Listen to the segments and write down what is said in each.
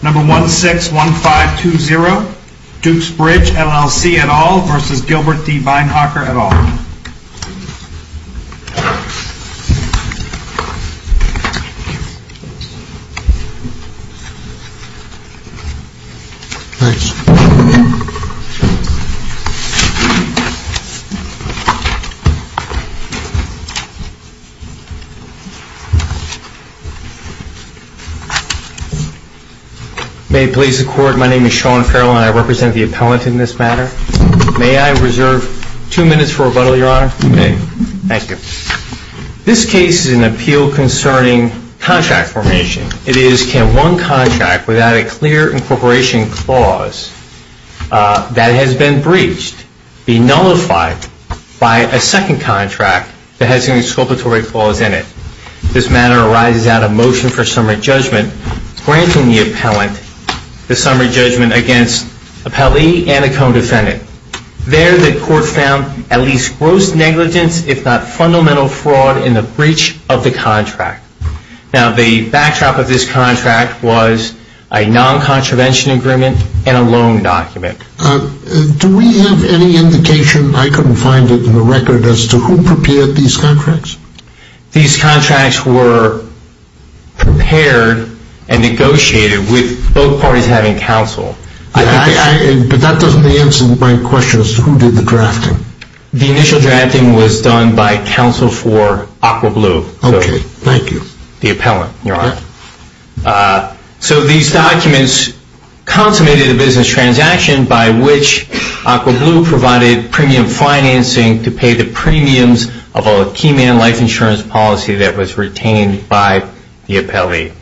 Number 161520 Dukes Bridge LLC et al. versus Gilbert D. Beinhocker et al. May it please the Court, my name is Sean Farrell and I represent the appellant in this matter. May I reserve two minutes for rebuttal, Your Honor? Okay. Thank you. This case is an appeal concerning contract formation. It is, can one contract without a clear incorporation clause that has been breached be nullified by a second contract that has any exculpatory clause in it? This matter arises out of motion for summary judgment granting the appellant the summary judgment against appellee and a co-defendant. There the Court found at least gross negligence if not fundamental fraud in the breach of the contract. Now the backdrop of this contract was a non-contravention agreement and a loan document. Do we have any indication, I couldn't find it in the record, as to who prepared these contracts? These contracts were prepared and negotiated with both parties having counsel. But that doesn't answer my question as to who did the drafting? The initial drafting was done by counsel for Aqua Blue. Okay. Thank you. The appellant, Your Honor. So these documents consummated a business transaction by which Aqua Blue provided premium financing to pay the premiums of a key man life insurance policy that was retained by the appellee.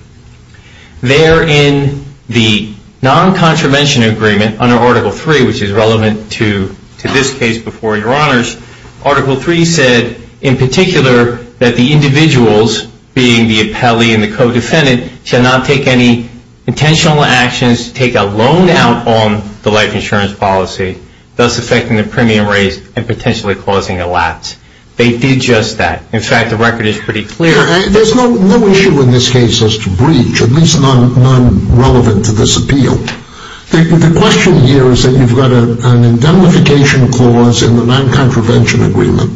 There in the non-contravention agreement under Article 3, which is relevant to this case before Your Honors, Article 3 said in particular that the individuals, being the appellee and the co-defendant, shall not take any intentional actions to take a loan out on the life insurance policy, thus affecting the premium raised and potentially causing a lapse. They did just that. In fact, the record is pretty clear. There's no issue in this case as to breach, at least none relevant to this appeal. The question here is that you've got an indemnification clause in the non-contravention agreement,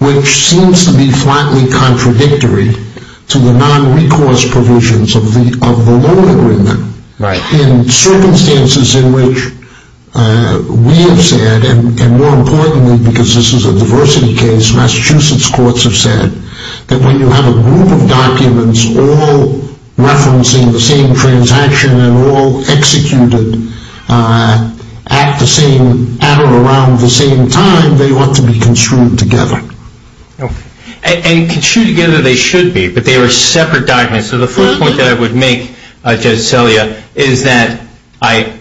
which seems to be flatly contradictory to the non-recourse provisions of the loan agreement. Right. In circumstances in which we have said, and more importantly because this is a diversity case, Massachusetts courts have said that when you have a group of documents all referencing the same transaction and all executed at or around the same time, they ought to be construed together. And construed together they should be, but they are separate documents. So the first point that I would make, Judge Celia, is that I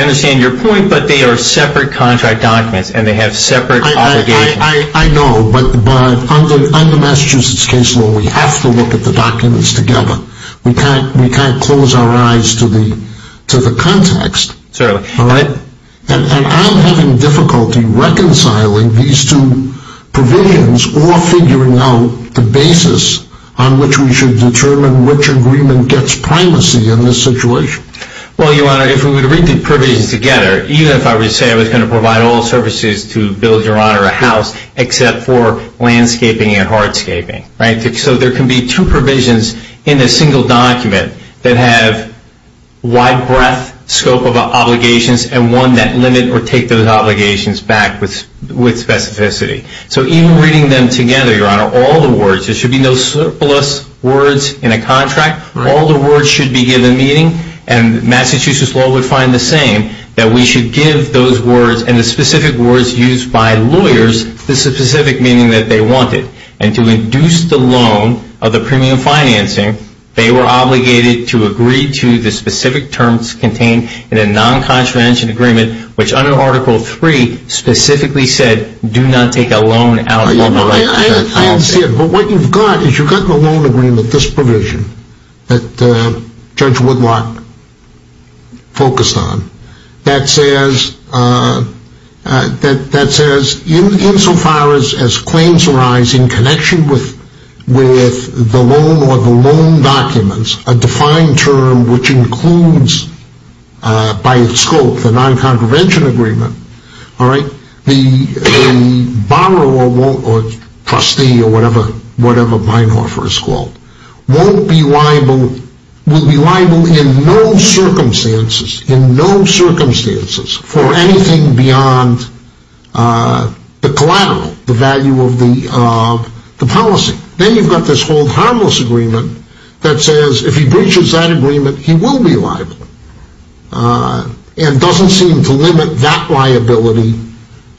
understand your point, but they are separate contract documents and they have separate obligations. I know, but I'm the Massachusetts case where we have to look at the documents together. We can't close our eyes to the context. Certainly. And I'm having difficulty reconciling these two provisions or figuring out the basis on which we should determine which agreement gets primacy in this situation. Well, Your Honor, if we were to read the provisions together, even if I were to say I was going to provide all services to build, Your Honor, a house, except for landscaping and hardscaping, right? So there can be two provisions in a single document that have wide breadth scope of obligations and one that limit or take those obligations back with specificity. So even reading them together, Your Honor, all the words, there should be no surplus words in a contract. All the words should be given meaning, and Massachusetts law would find the same, that we should give those words and the specific words used by lawyers the specific meaning that they wanted. And to induce the loan of the premium financing, they were obligated to agree to the specific terms contained in a non-contravention agreement, which under Article III specifically said do not take a loan out of the right to that house. I understand, but what you've got is you've got the loan agreement, this provision, that Judge Woodlock focused on, that says insofar as claims arise in connection with the loan or the loan documents, a defined term which includes by its scope the non-contravention agreement, all right, the borrower or trustee or whatever mine offer is called, will be liable in no circumstances for anything beyond the collateral, the value of the policy. Then you've got this whole harmless agreement that says if he breaches that agreement, he will be liable. And doesn't seem to limit that liability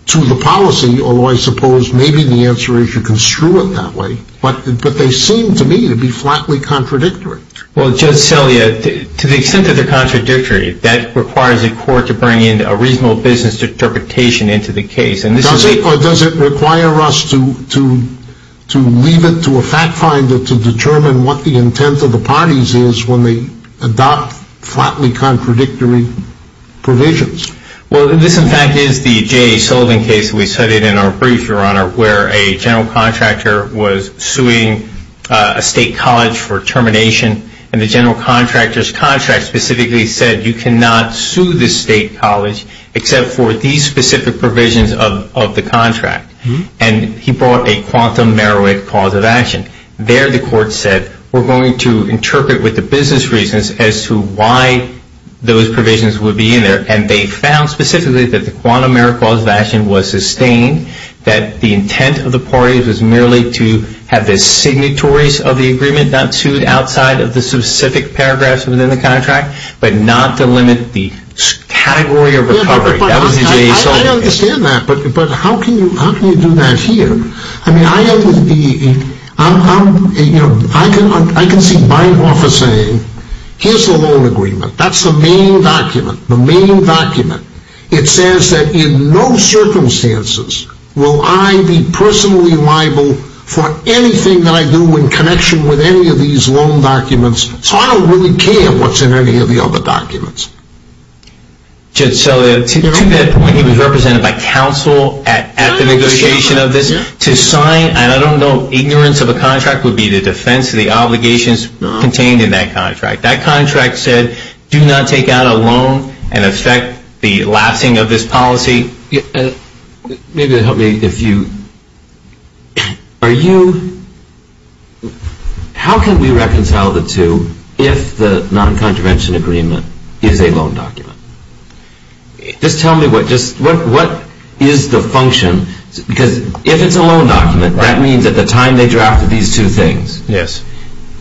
to the policy, although I suppose maybe the answer is you can screw it that way, but they seem to me to be flatly contradictory. Well, Judge Celia, to the extent that they're contradictory, that requires a court to bring in a reasonable business interpretation into the case. Does it, or does it require us to leave it to a fact finder to determine what the intent of the parties is when they adopt flatly contradictory provisions? Well, this in fact is the Jay Sullivan case we studied in our brief, Your Honor, where a general contractor was suing a state college for termination, and the general contractor's contract specifically said you cannot sue this state college except for these specific provisions of the contract. And he brought a quantum merit cause of action. There the court said we're going to interpret with the business reasons as to why those provisions would be in there, and they found specifically that the quantum merit cause of action was sustained, that the intent of the parties was merely to have the signatories of the agreement not sued outside of the specific paragraphs within the contract, but not to limit the category of recovery. That was the Jay Sullivan case. I understand that, but how can you do that here? I mean, I can see my office saying, here's the loan agreement. That's the main document. The main document. It says that in no circumstances will I be personally liable for anything that I do in connection with any of these loan documents, so I don't really care what's in any of the other documents. So to that point, he was represented by counsel at the negotiation of this to sign, and I don't know, ignorance of a contract would be the defense of the obligations contained in that contract. That contract said do not take out a loan and affect the lasting of this policy. Maybe it would help me if you, are you, how can we reconcile the two if the non-contravention agreement is a loan document? Just tell me what is the function, because if it's a loan document, that means at the time they drafted these two things,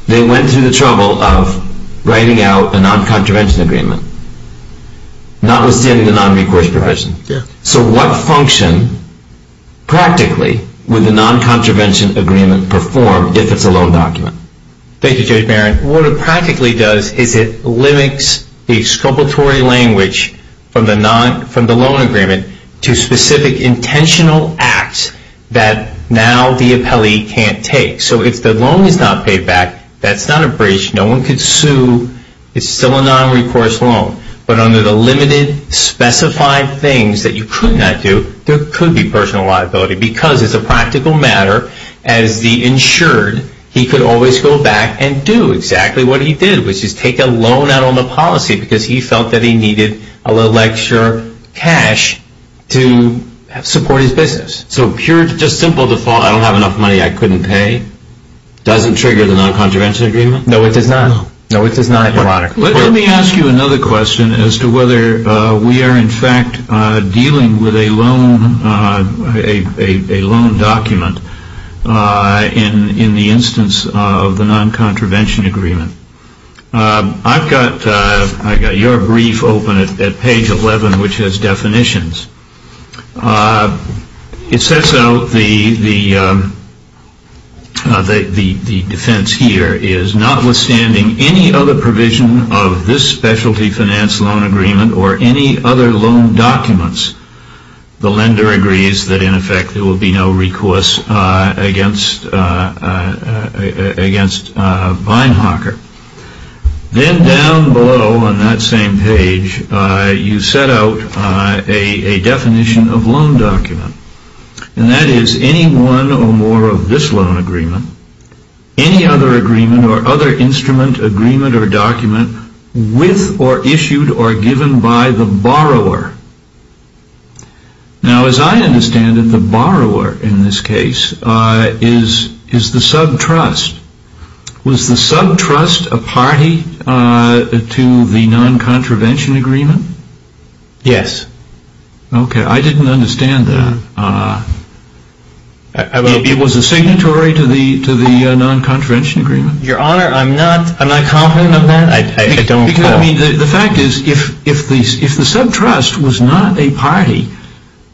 they went through the trouble of writing out a non-contravention agreement, notwithstanding the non-recourse provision. So what function, practically, would the non-contravention agreement perform if it's a loan document? Thank you, Judge Barron. What it practically does is it limits the exculpatory language from the loan agreement to specific intentional acts that now the appellee can't take. So if the loan is not paid back, that's not a breach. No one could sue. It's still a non-recourse loan. But under the limited specified things that you could not do, there could be personal liability because as a practical matter, as the insured, he could always go back and do exactly what he did, which is take a loan out on the policy because he felt that he needed a little extra cash to support his business. So pure, just simple default, I don't have enough money, I couldn't pay, doesn't trigger the non-contravention agreement? No, it does not. No, it does not. Let me ask you another question as to whether we are, in fact, dealing with a loan document in the instance of the non-contravention agreement. I've got your brief open at page 11, which has definitions. It sets out the defense here is, notwithstanding any other provision of this specialty finance loan agreement or any other loan documents, the lender agrees that in effect there will be no recourse against Beinhacker. Then down below on that same page, you set out a definition of loan document, and that is any one or more of this loan agreement, any other agreement or other instrument, agreement, or document, with or issued or given by the borrower. Now, as I understand it, the borrower in this case is the subtrust. Was the subtrust a party to the non-contravention agreement? Yes. Okay. I didn't understand that. It was a signatory to the non-contravention agreement? Your Honor, I'm not confident of that. I don't know. The fact is if the subtrust was not a party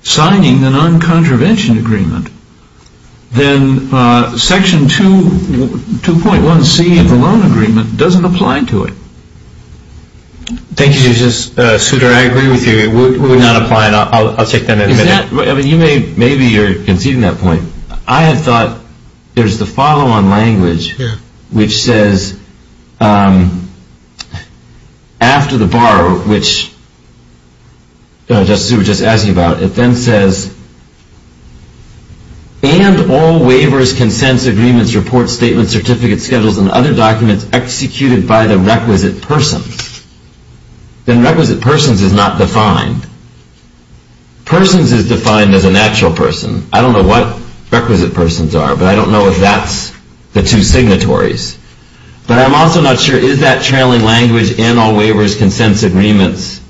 signing the non-contravention agreement, then Section 2.1C of the loan agreement doesn't apply to it. Thank you, Justice Souter. I agree with you. It would not apply, and I'll take that in a minute. Maybe you're conceding that point. I had thought there's the follow-on language which says after the borrower, which Justice Souter was just asking about, it then says, and all waivers, consents, agreements, reports, statements, certificates, schedules, and other documents executed by the requisite persons. Then requisite persons is not defined. Persons is defined as a natural person. I don't know what requisite persons are, but I don't know if that's the two signatories. But I'm also not sure, is that trailing language, and all waivers, consents, agreements,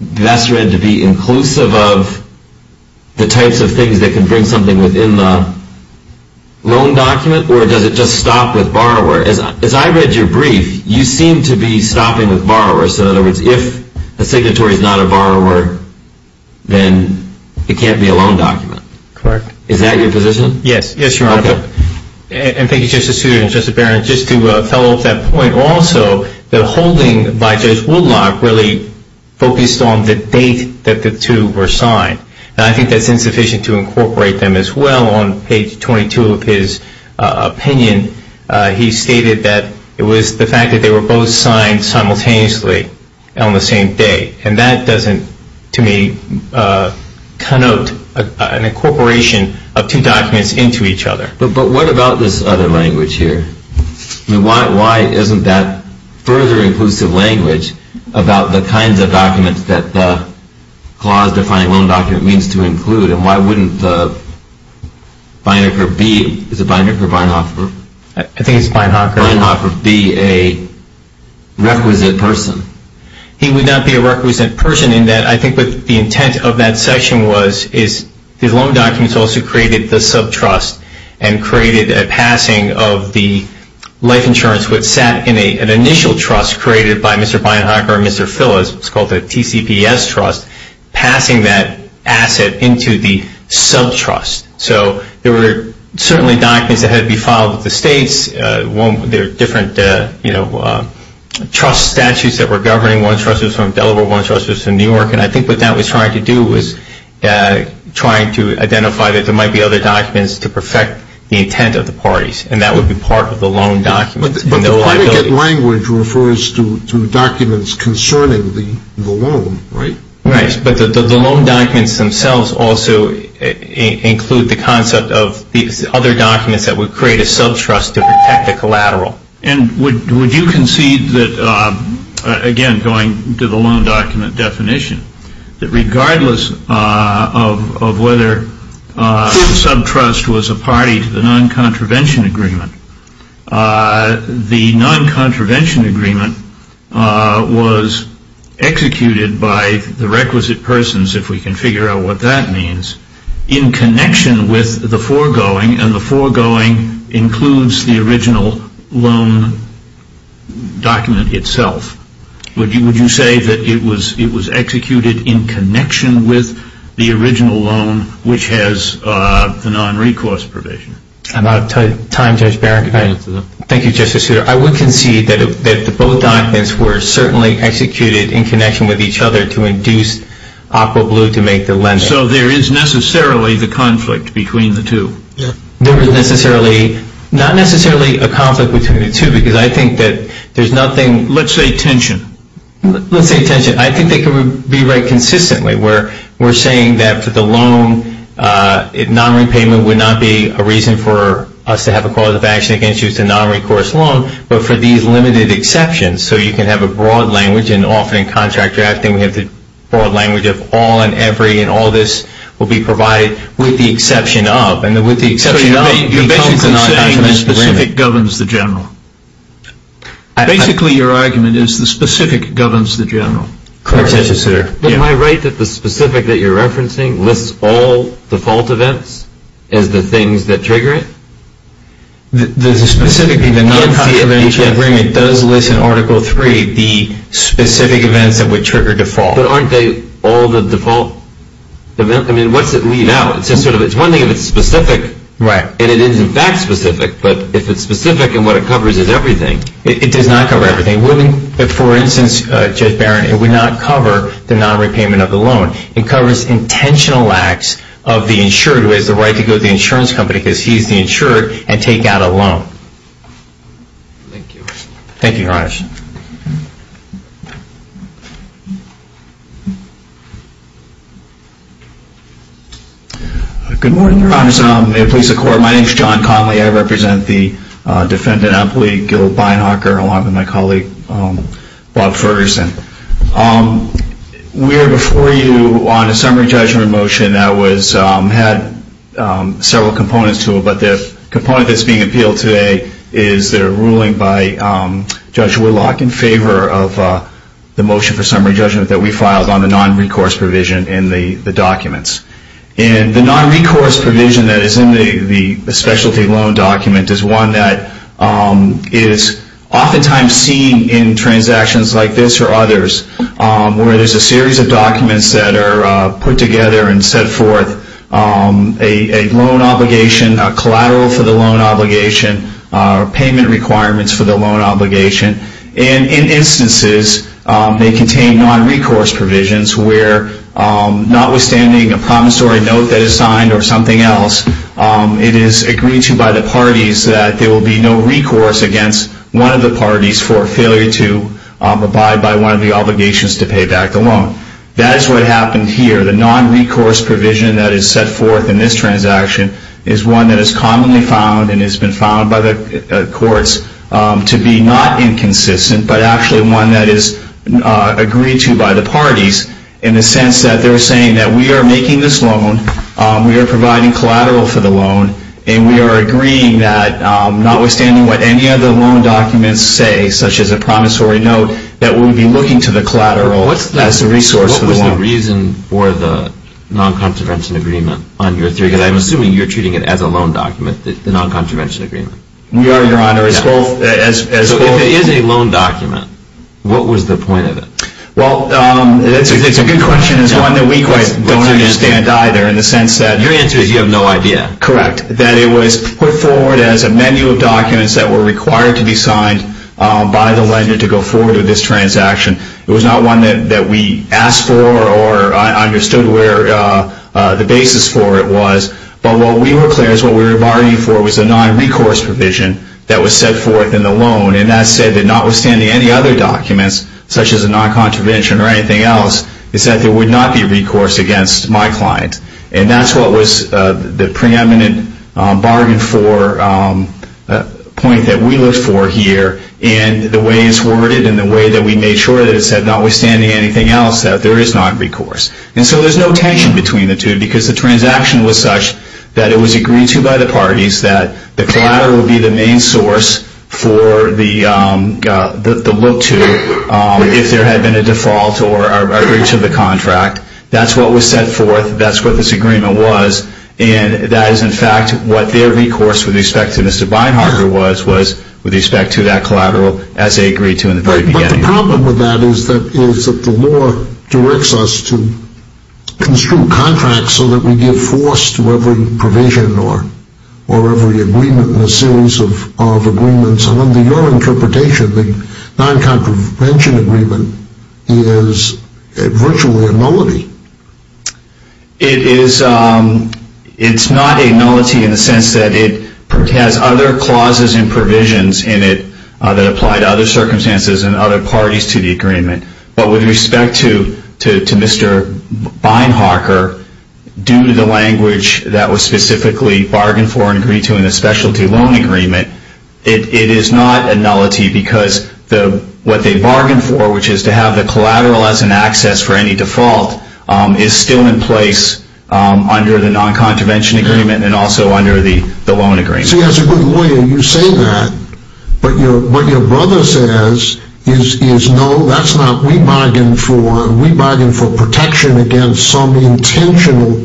best read to be inclusive of the types of things that can bring something within the loan document, or does it just stop with borrower? As I read your brief, you seem to be stopping with borrower. So in other words, if a signatory is not a borrower, then it can't be a loan document. Correct. Is that your position? Yes, Your Honor. And thank you, Justice Souter and Justice Barron. Just to follow up that point also, the holding by Judge Woodlock really focused on the date that the two were signed. And I think that's insufficient to incorporate them as well. On page 22 of his opinion, he stated that it was the fact that they were both signed simultaneously on the same day. And that doesn't, to me, connote an incorporation of two documents into each other. But what about this other language here? Why isn't that further inclusive language about the kinds of documents that the clause defining loan document means to include? And why wouldn't Beinecker be, is it Beinecker or Beinhofer? I think it's Beinhofer. Beinhofer be a requisite person? He would not be a requisite person in that I think what the intent of that section was, is the loan documents also created the subtrust and created a passing of the life insurance which sat in an initial trust created by Mr. Beinhecker and Mr. Phyllis. It's called the TCPS trust. Passing that asset into the subtrust. So there were certainly documents that had to be filed with the states. There are different, you know, trust statutes that were governing one trust was from Delaware, one trust was from New York, and I think what that was trying to do was trying to identify that there might be other documents to perfect the intent of the parties. And that would be part of the loan documents. No liability. But the predicate language refers to documents concerning the loan, right? Right. But the loan documents themselves also include the concept of other documents that would create a subtrust to protect the collateral. And would you concede that, again, going to the loan document definition, that regardless of whether the subtrust was a party to the non-contravention agreement, the non-contravention agreement was executed by the requisite persons, if we can figure out what that means, in connection with the foregoing, and the foregoing includes the original loan document itself. Would you say that it was executed in connection with the original loan, which has the non-recourse provision? I'm out of time, Judge Barron. Thank you, Justice Souter. I would concede that both documents were certainly executed in connection with each other to induce Aqua Blue to make the lending. So there is necessarily the conflict between the two? There is not necessarily a conflict between the two, because I think that there's nothing. Let's say tension. Let's say tension. I think they could be right consistently, where we're saying that for the loan, non-repayment would not be a reason for us to have a cause of action against you. It's a non-recourse loan, but for these limited exceptions. So you can have a broad language, and often in contract drafting, we have the broad language of all and every, and all this will be provided with the exception of. So you're basically saying the specific governs the general. Basically, your argument is the specific governs the general. Correct, Justice Souter. Am I right that the specific that you're referencing lists all default events as the things that trigger it? Specifically, the non-constitutional agreement does list in Article III the specific events that would trigger default. But aren't they all the default? I mean, what's it lead out? It's one thing if it's specific, and it is in fact specific, but if it's specific and what it covers is everything. It does not cover everything. For instance, Judge Barron, it would not cover the non-repayment of the loan. It covers intentional acts of the insured who has the right to go to the insurance company, because he's the insured, and take out a loan. Thank you. Thank you, Your Honor. Good morning, Your Honor. May it please the Court, my name is John Conley. I represent the Defendant Amplified Guild of Beinhacker, along with my colleague, Bob Ferguson. We are before you on a summary judgment motion that had several components to it, but the component that's being appealed today is the ruling by Judge Woodlock in favor of the motion for summary judgment that we filed on the non-recourse provision in the documents. And the non-recourse provision that is in the specialty loan document is one that is oftentimes seen in transactions like this or others where there's a series of documents that are put together and set forth a loan obligation, a collateral for the loan obligation, payment requirements for the loan obligation. And in instances, they contain non-recourse provisions where notwithstanding a promissory note that is signed or something else, it is agreed to by the parties that there will be no recourse against one of the parties for failure to abide by one of the obligations to pay back the loan. That is what happened here. The non-recourse provision that is set forth in this transaction is one that is commonly found and has been found by the courts to be not inconsistent, but actually one that is agreed to by the parties in the sense that they're saying that we are making this loan, we are providing collateral for the loan, and we are agreeing that notwithstanding what any other loan documents say, such as a promissory note, that we'll be looking to the collateral as a resource for the loan. Is there a reason for the non-contravention agreement on your theory? Because I'm assuming you're treating it as a loan document, the non-contravention agreement. We are, Your Honor. So if it is a loan document, what was the point of it? Well, it's a good question. It's one that we quite don't understand either in the sense that... Your answer is you have no idea. Correct. That it was put forward as a menu of documents that were required to be signed by the lender to go forward with this transaction. It was not one that we asked for or understood where the basis for it was. But what we were clear is what we were bargaining for was a non-recourse provision that was set forth in the loan. And that said, that notwithstanding any other documents, such as a non-contravention or anything else, is that there would not be recourse against my client. And that's what was the preeminent bargain for point that we looked for here. And the way it's worded and the way that we made sure that it said, notwithstanding anything else, that there is not recourse. And so there's no tension between the two because the transaction was such that it was agreed to by the parties that the collateral would be the main source for the look to if there had been a default or breach of the contract. That's what was set forth. That's what this agreement was. And that is, in fact, what their recourse with respect to Mr. Beinhart was, was with respect to that collateral as they agreed to in the very beginning. But the problem with that is that the law directs us to construe contracts so that we give force to every provision or every agreement in a series of agreements. And under your interpretation, the non-contravention agreement is virtually a nullity. It is not a nullity in the sense that it has other clauses and provisions in it that apply to other circumstances and other parties to the agreement. But with respect to Mr. Beinhart, due to the language that was specifically bargained for and agreed to in the specialty loan agreement, it is not a nullity because what they bargained for, which is to have the collateral as an access for any default, is still in place under the non-contravention agreement and also under the loan agreement. See, as a good lawyer, you say that. But what your brother says is, no, that's not what we bargained for. We bargained for protection against some intentional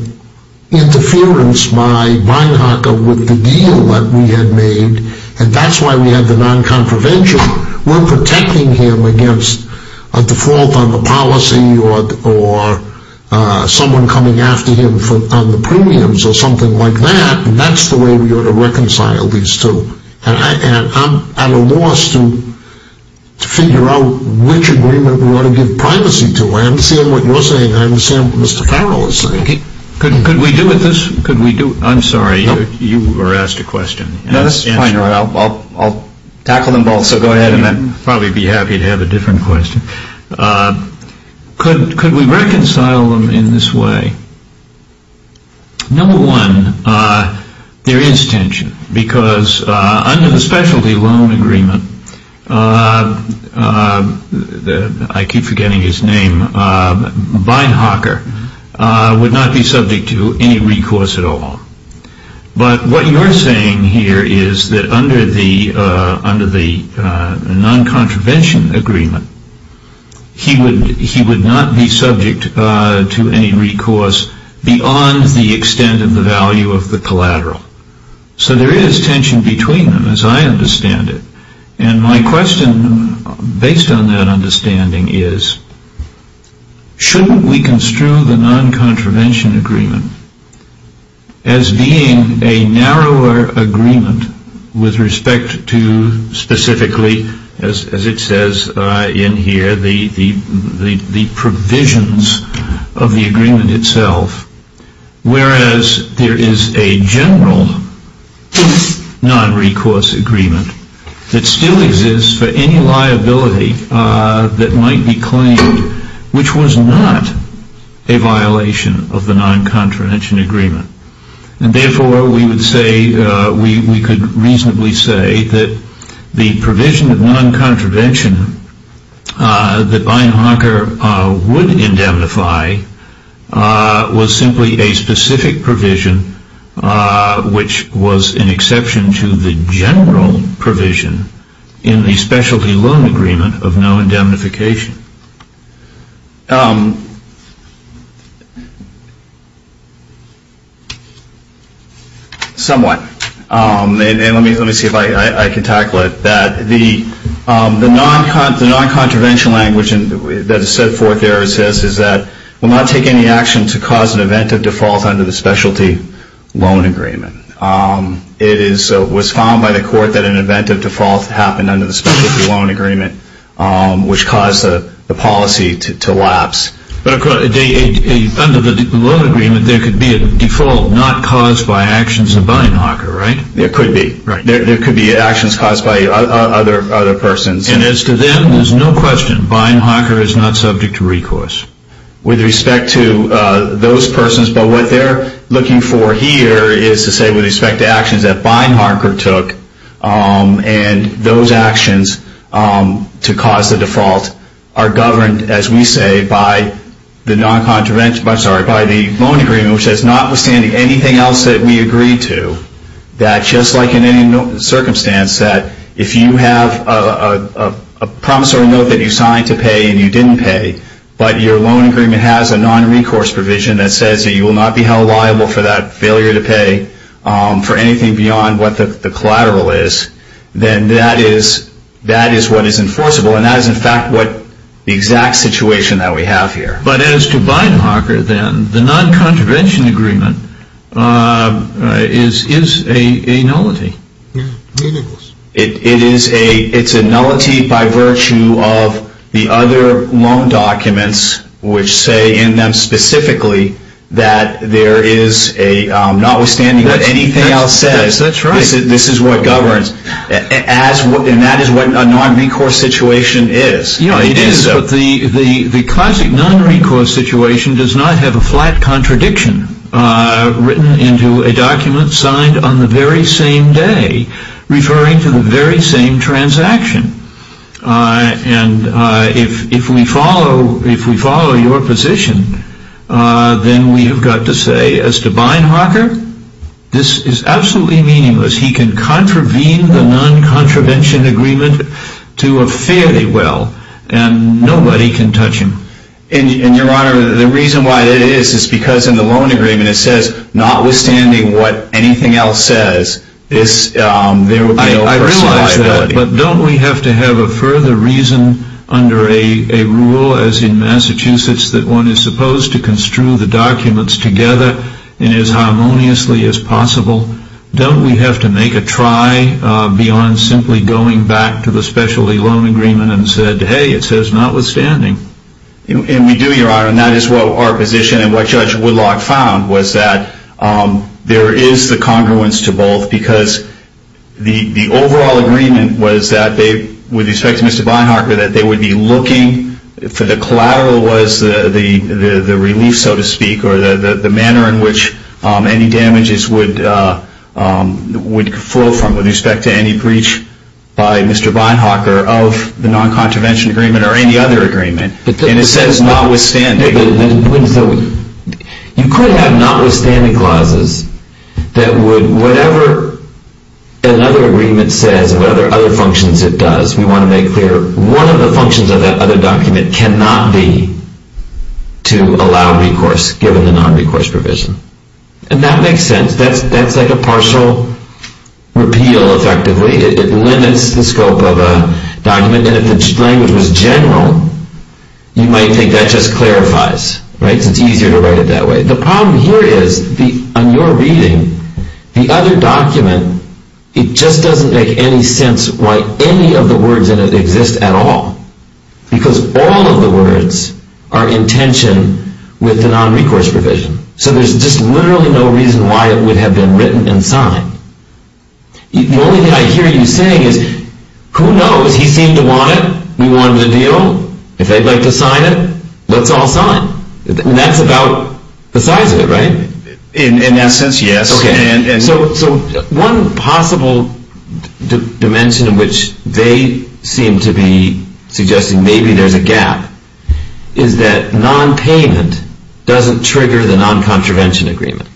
interference by Beinhart with the deal that we had made. And that's why we had the non-contravention. We're protecting him against a default on the policy or someone coming after him on the premiums or something like that. And that's the way we ought to reconcile these two. And I'm at a loss to figure out which agreement we ought to give privacy to. I understand what you're saying. I understand what Mr. Farrell is saying. Could we do with this? I'm sorry, you were asked a question. No, this is fine. I'll tackle them both. So go ahead. I'd probably be happy to have a different question. Could we reconcile them in this way? Number one, there is tension because under the specialty loan agreement, I keep forgetting his name, Beinhart would not be subject to any recourse at all. But what you're saying here is that under the non-contravention agreement, he would not be subject to any recourse beyond the extent of the value of the collateral. So there is tension between them as I understand it. And my question based on that understanding is, shouldn't we construe the non-contravention agreement as being a narrower agreement with respect to specifically, as it says in here, the provisions of the agreement itself, whereas there is a general non-recourse agreement that still exists for any liability that might be claimed, which was not a violation of the non-contravention agreement. And therefore, we would say, we could reasonably say that the provision of non-contravention that Beinhart would indemnify was simply a specific provision, which was an exception to the general provision in the specialty loan agreement of no indemnification. Somewhat. And let me see if I can tackle it. The non-contravention language that is set forth there is this, is that we will not take any action to cause an event of default under the specialty loan agreement. It was found by the court that an event of default happened under the specialty loan agreement, which caused the policy to lapse. But under the loan agreement, there could be a default not caused by actions of Beinhart, right? There could be. There could be actions caused by other persons. And as to them, there's no question, Beinhart is not subject to recourse. With respect to those persons, but what they're looking for here is to say, with respect to actions that Beinhart took, and those actions to cause the default, are governed, as we say, by the loan agreement, which says notwithstanding anything else that we agreed to, that just like in any circumstance that if you have a promissory note that you signed to pay and you didn't pay, but your loan agreement has a non-recourse provision that says that you will not be held liable for that failure to pay for anything beyond what the collateral is, then that is what is enforceable. And that is, in fact, the exact situation that we have here. But as to Beinhart, then, the non-contravention agreement is a nullity. Yeah, meaningless. It is a nullity by virtue of the other loan documents, which say in them specifically that there is a, notwithstanding what anything else says, this is what governs. And that is what a non-recourse situation is. Yeah, it is, but the classic non-recourse situation does not have a flat contradiction written into a document signed on the very same day referring to the very same transaction. And if we follow your position, then we have got to say as to Beinhart, this is absolutely meaningless. He can contravene the non-contravention agreement to a fairly well, and nobody can touch him. And, Your Honor, the reason why that is is because in the loan agreement it says, notwithstanding what anything else says, there would be no personal liability. I realize that, but don't we have to have a further reason under a rule as in Massachusetts that one is supposed to construe the documents together in as harmoniously as possible? Don't we have to make a try beyond simply going back to the specialty loan agreement and said, hey, it says notwithstanding? And we do, Your Honor, and that is what our position and what Judge Woodlock found was that there is the congruence to both because the overall agreement was that they, with respect to Mr. Beinhart, that they would be looking for the collateral was the relief, so to speak, or the manner in which any damages would flow from with respect to any breach by Mr. Beinhart of the non-contravention agreement or any other agreement. And it says notwithstanding. You could have notwithstanding clauses that would, whatever another agreement says, whatever other functions it does, we want to make clear, one of the functions of that other document cannot be to allow recourse given the non-recourse provision. And that makes sense. That's like a partial repeal, effectively. It limits the scope of a document. And if the language was general, you might think that just clarifies, right? It's easier to write it that way. The problem here is on your reading, the other document, it just doesn't make any sense why any of the words in it exist at all because all of the words are in tension with the non-recourse provision. So there's just literally no reason why it would have been written and signed. The only thing I hear you saying is, who knows? He seemed to want it. We wanted a deal. If they'd like to sign it, let's all sign. And that's about the size of it, right? In essence, yes. Okay. So one possible dimension in which they seem to be suggesting maybe there's a gap is that non-payment doesn't trigger the non-contravention agreement.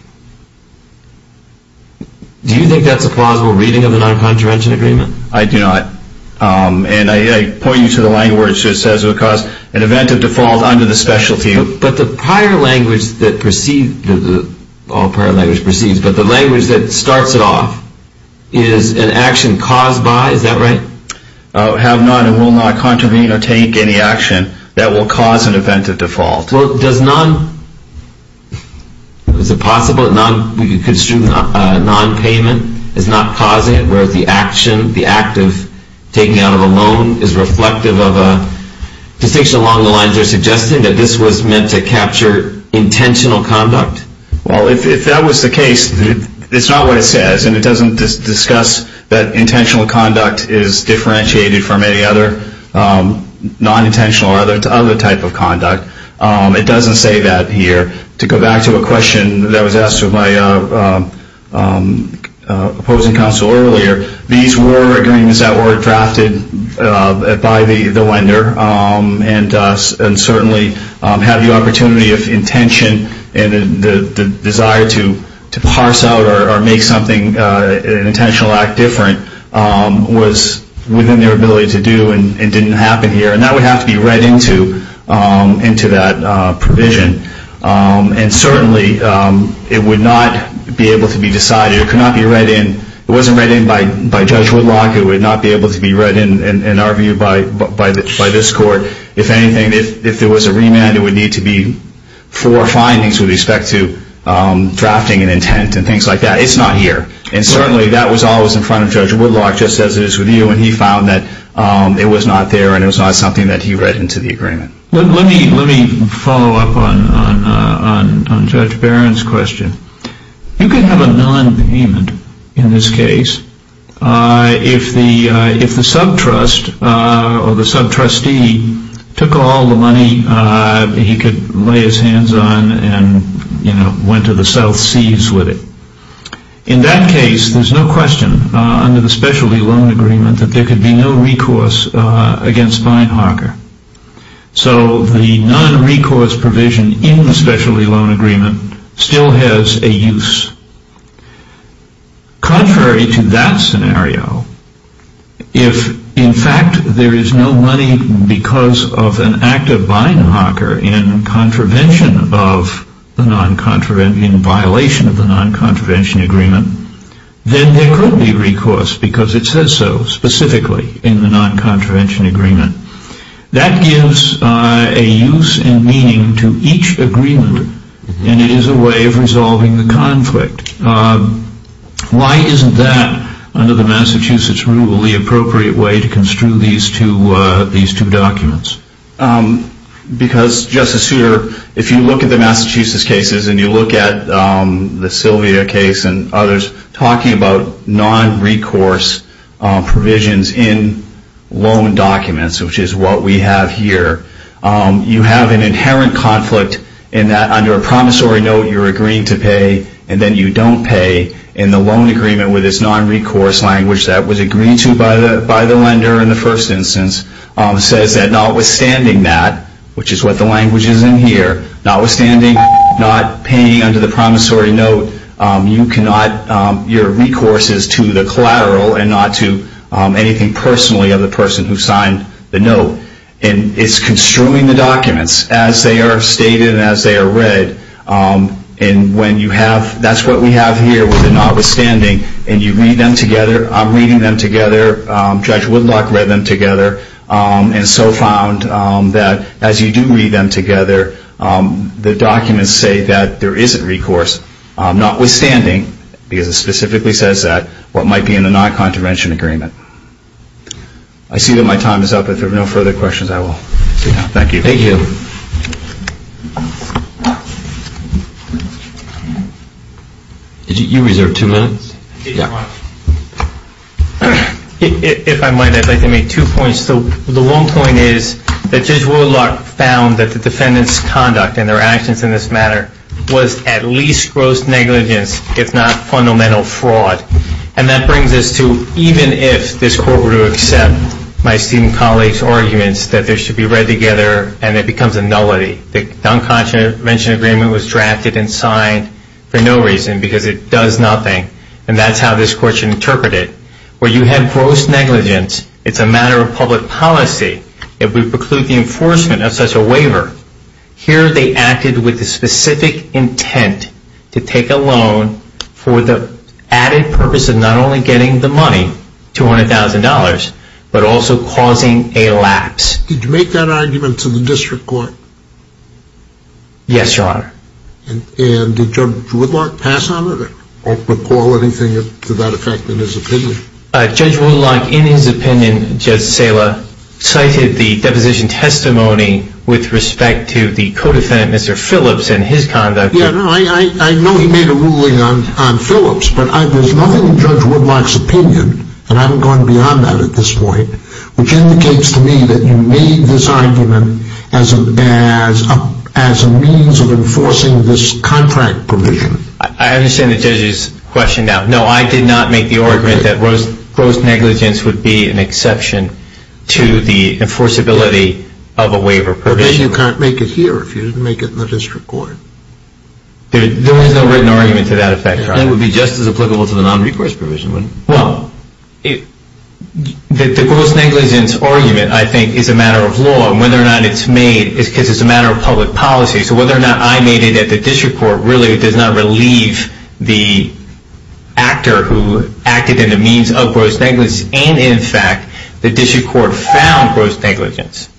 Do you think that's a plausible reading of the non-contravention agreement? I do not. And I point you to the language that says, an event of default under the specialty. But the prior language that proceeds, all prior language proceeds, but the language that starts it off, is an action caused by, is that right? Have not and will not contravene or take any action that will cause an event of default. Well, does non- is it possible that non-payment is not causing it, where the action, the act of taking out of a loan is reflective of a distinction along the lines they're suggesting, that this was meant to capture intentional conduct? Well, if that was the case, it's not what it says, and it doesn't discuss that intentional conduct is differentiated from any other non-intentional or other type of conduct. It doesn't say that here. To go back to a question that was asked of my opposing counsel earlier, these were agreements that were drafted by the lender and certainly have the opportunity of intention and the desire to parse out or make something, an intentional act different, was within their ability to do and didn't happen here. And that would have to be read into that provision. And certainly it would not be able to be decided, it could not be read in, it wasn't read in by Judge Woodlock, it would not be able to be read in, in our view, by this court. If there was a remand, it would need to be four findings with respect to drafting and intent and things like that. It's not here. And certainly that was always in front of Judge Woodlock, just as it is with you, and he found that it was not there and it was not something that he read into the agreement. Let me follow up on Judge Barron's question. You could have a non-payment in this case if the sub-trust or the sub-trustee took all the money he could lay his hands on and, you know, went to the South Seas with it. In that case, there's no question under the specialty loan agreement that there could be no recourse against Beinhacker. So the non-recourse provision in the specialty loan agreement still has a use. Contrary to that scenario, if, in fact, there is no money because of an act of Beinhacker in contravention of the non-contravention, in violation of the non-contravention agreement, then there could be recourse because it says so specifically in the non-contravention agreement. That gives a use and meaning to each agreement, and it is a way of resolving the conflict. Why isn't that, under the Massachusetts rule, the appropriate way to construe these two documents? Because, Justice Souter, if you look at the Massachusetts cases and you look at the Sylvia case and others, talking about non-recourse provisions in loan documents, which is what we have here, you have an inherent conflict in that under a promissory note you're agreeing to pay and then you don't pay in the loan agreement with this non-recourse language that was agreed to by the lender in the first instance, says that notwithstanding that, which is what the language is in here, notwithstanding not paying under the promissory note, you cannot, your recourse is to the collateral and not to anything personally of the person who signed the note. And it's construing the documents as they are stated and as they are read, and when you have, that's what we have here with the notwithstanding, and you read them together, I'm reading them together, Judge Woodlock read them together, and so found that as you do read them together, the documents say that there isn't recourse, notwithstanding, because it specifically says that, what might be in the non-contravention agreement. I see that my time is up. If there are no further questions, I will sit down. Thank you. Thank you. You reserved two minutes. If I might, I'd like to make two points. The one point is that Judge Woodlock found that the defendant's conduct and their actions in this matter was at least gross negligence, if not fundamental fraud. And that brings us to even if this Court were to accept my esteemed colleague's arguments that they should be read together and it becomes a nullity, the non-contravention agreement was drafted and signed for no reason because it does nothing, and that's how this Court should interpret it. Where you have gross negligence, it's a matter of public policy. If we preclude the enforcement of such a waiver, here they acted with the specific intent to take a loan for the added purpose of not only getting the money, $200,000, but also causing a lapse. Did you make that argument to the District Court? Yes, Your Honor. And did Judge Woodlock pass on it or recall anything to that effect in his opinion? Judge Woodlock, in his opinion, Judge Sala, cited the deposition testimony with respect to the co-defendant, Mr. Phillips, and his conduct. Yeah, I know he made a ruling on Phillips, but there's nothing in Judge Woodlock's opinion, and I'm going beyond that at this point, which indicates to me that you made this argument as a means of enforcing this contract provision. I understand the judge's question now. No, I did not make the argument that gross negligence would be an exception to the enforceability of a waiver provision. But then you can't make it here if you didn't make it in the District Court. There was no written argument to that effect, Your Honor. Then it would be just as applicable to the nonrecourse provision, wouldn't it? Well, the gross negligence argument, I think, is a matter of law, and whether or not it's made is because it's a matter of public policy. So whether or not I made it at the District Court really does not relieve the actor who acted in the means of gross negligence, and, in fact, the District Court found gross negligence.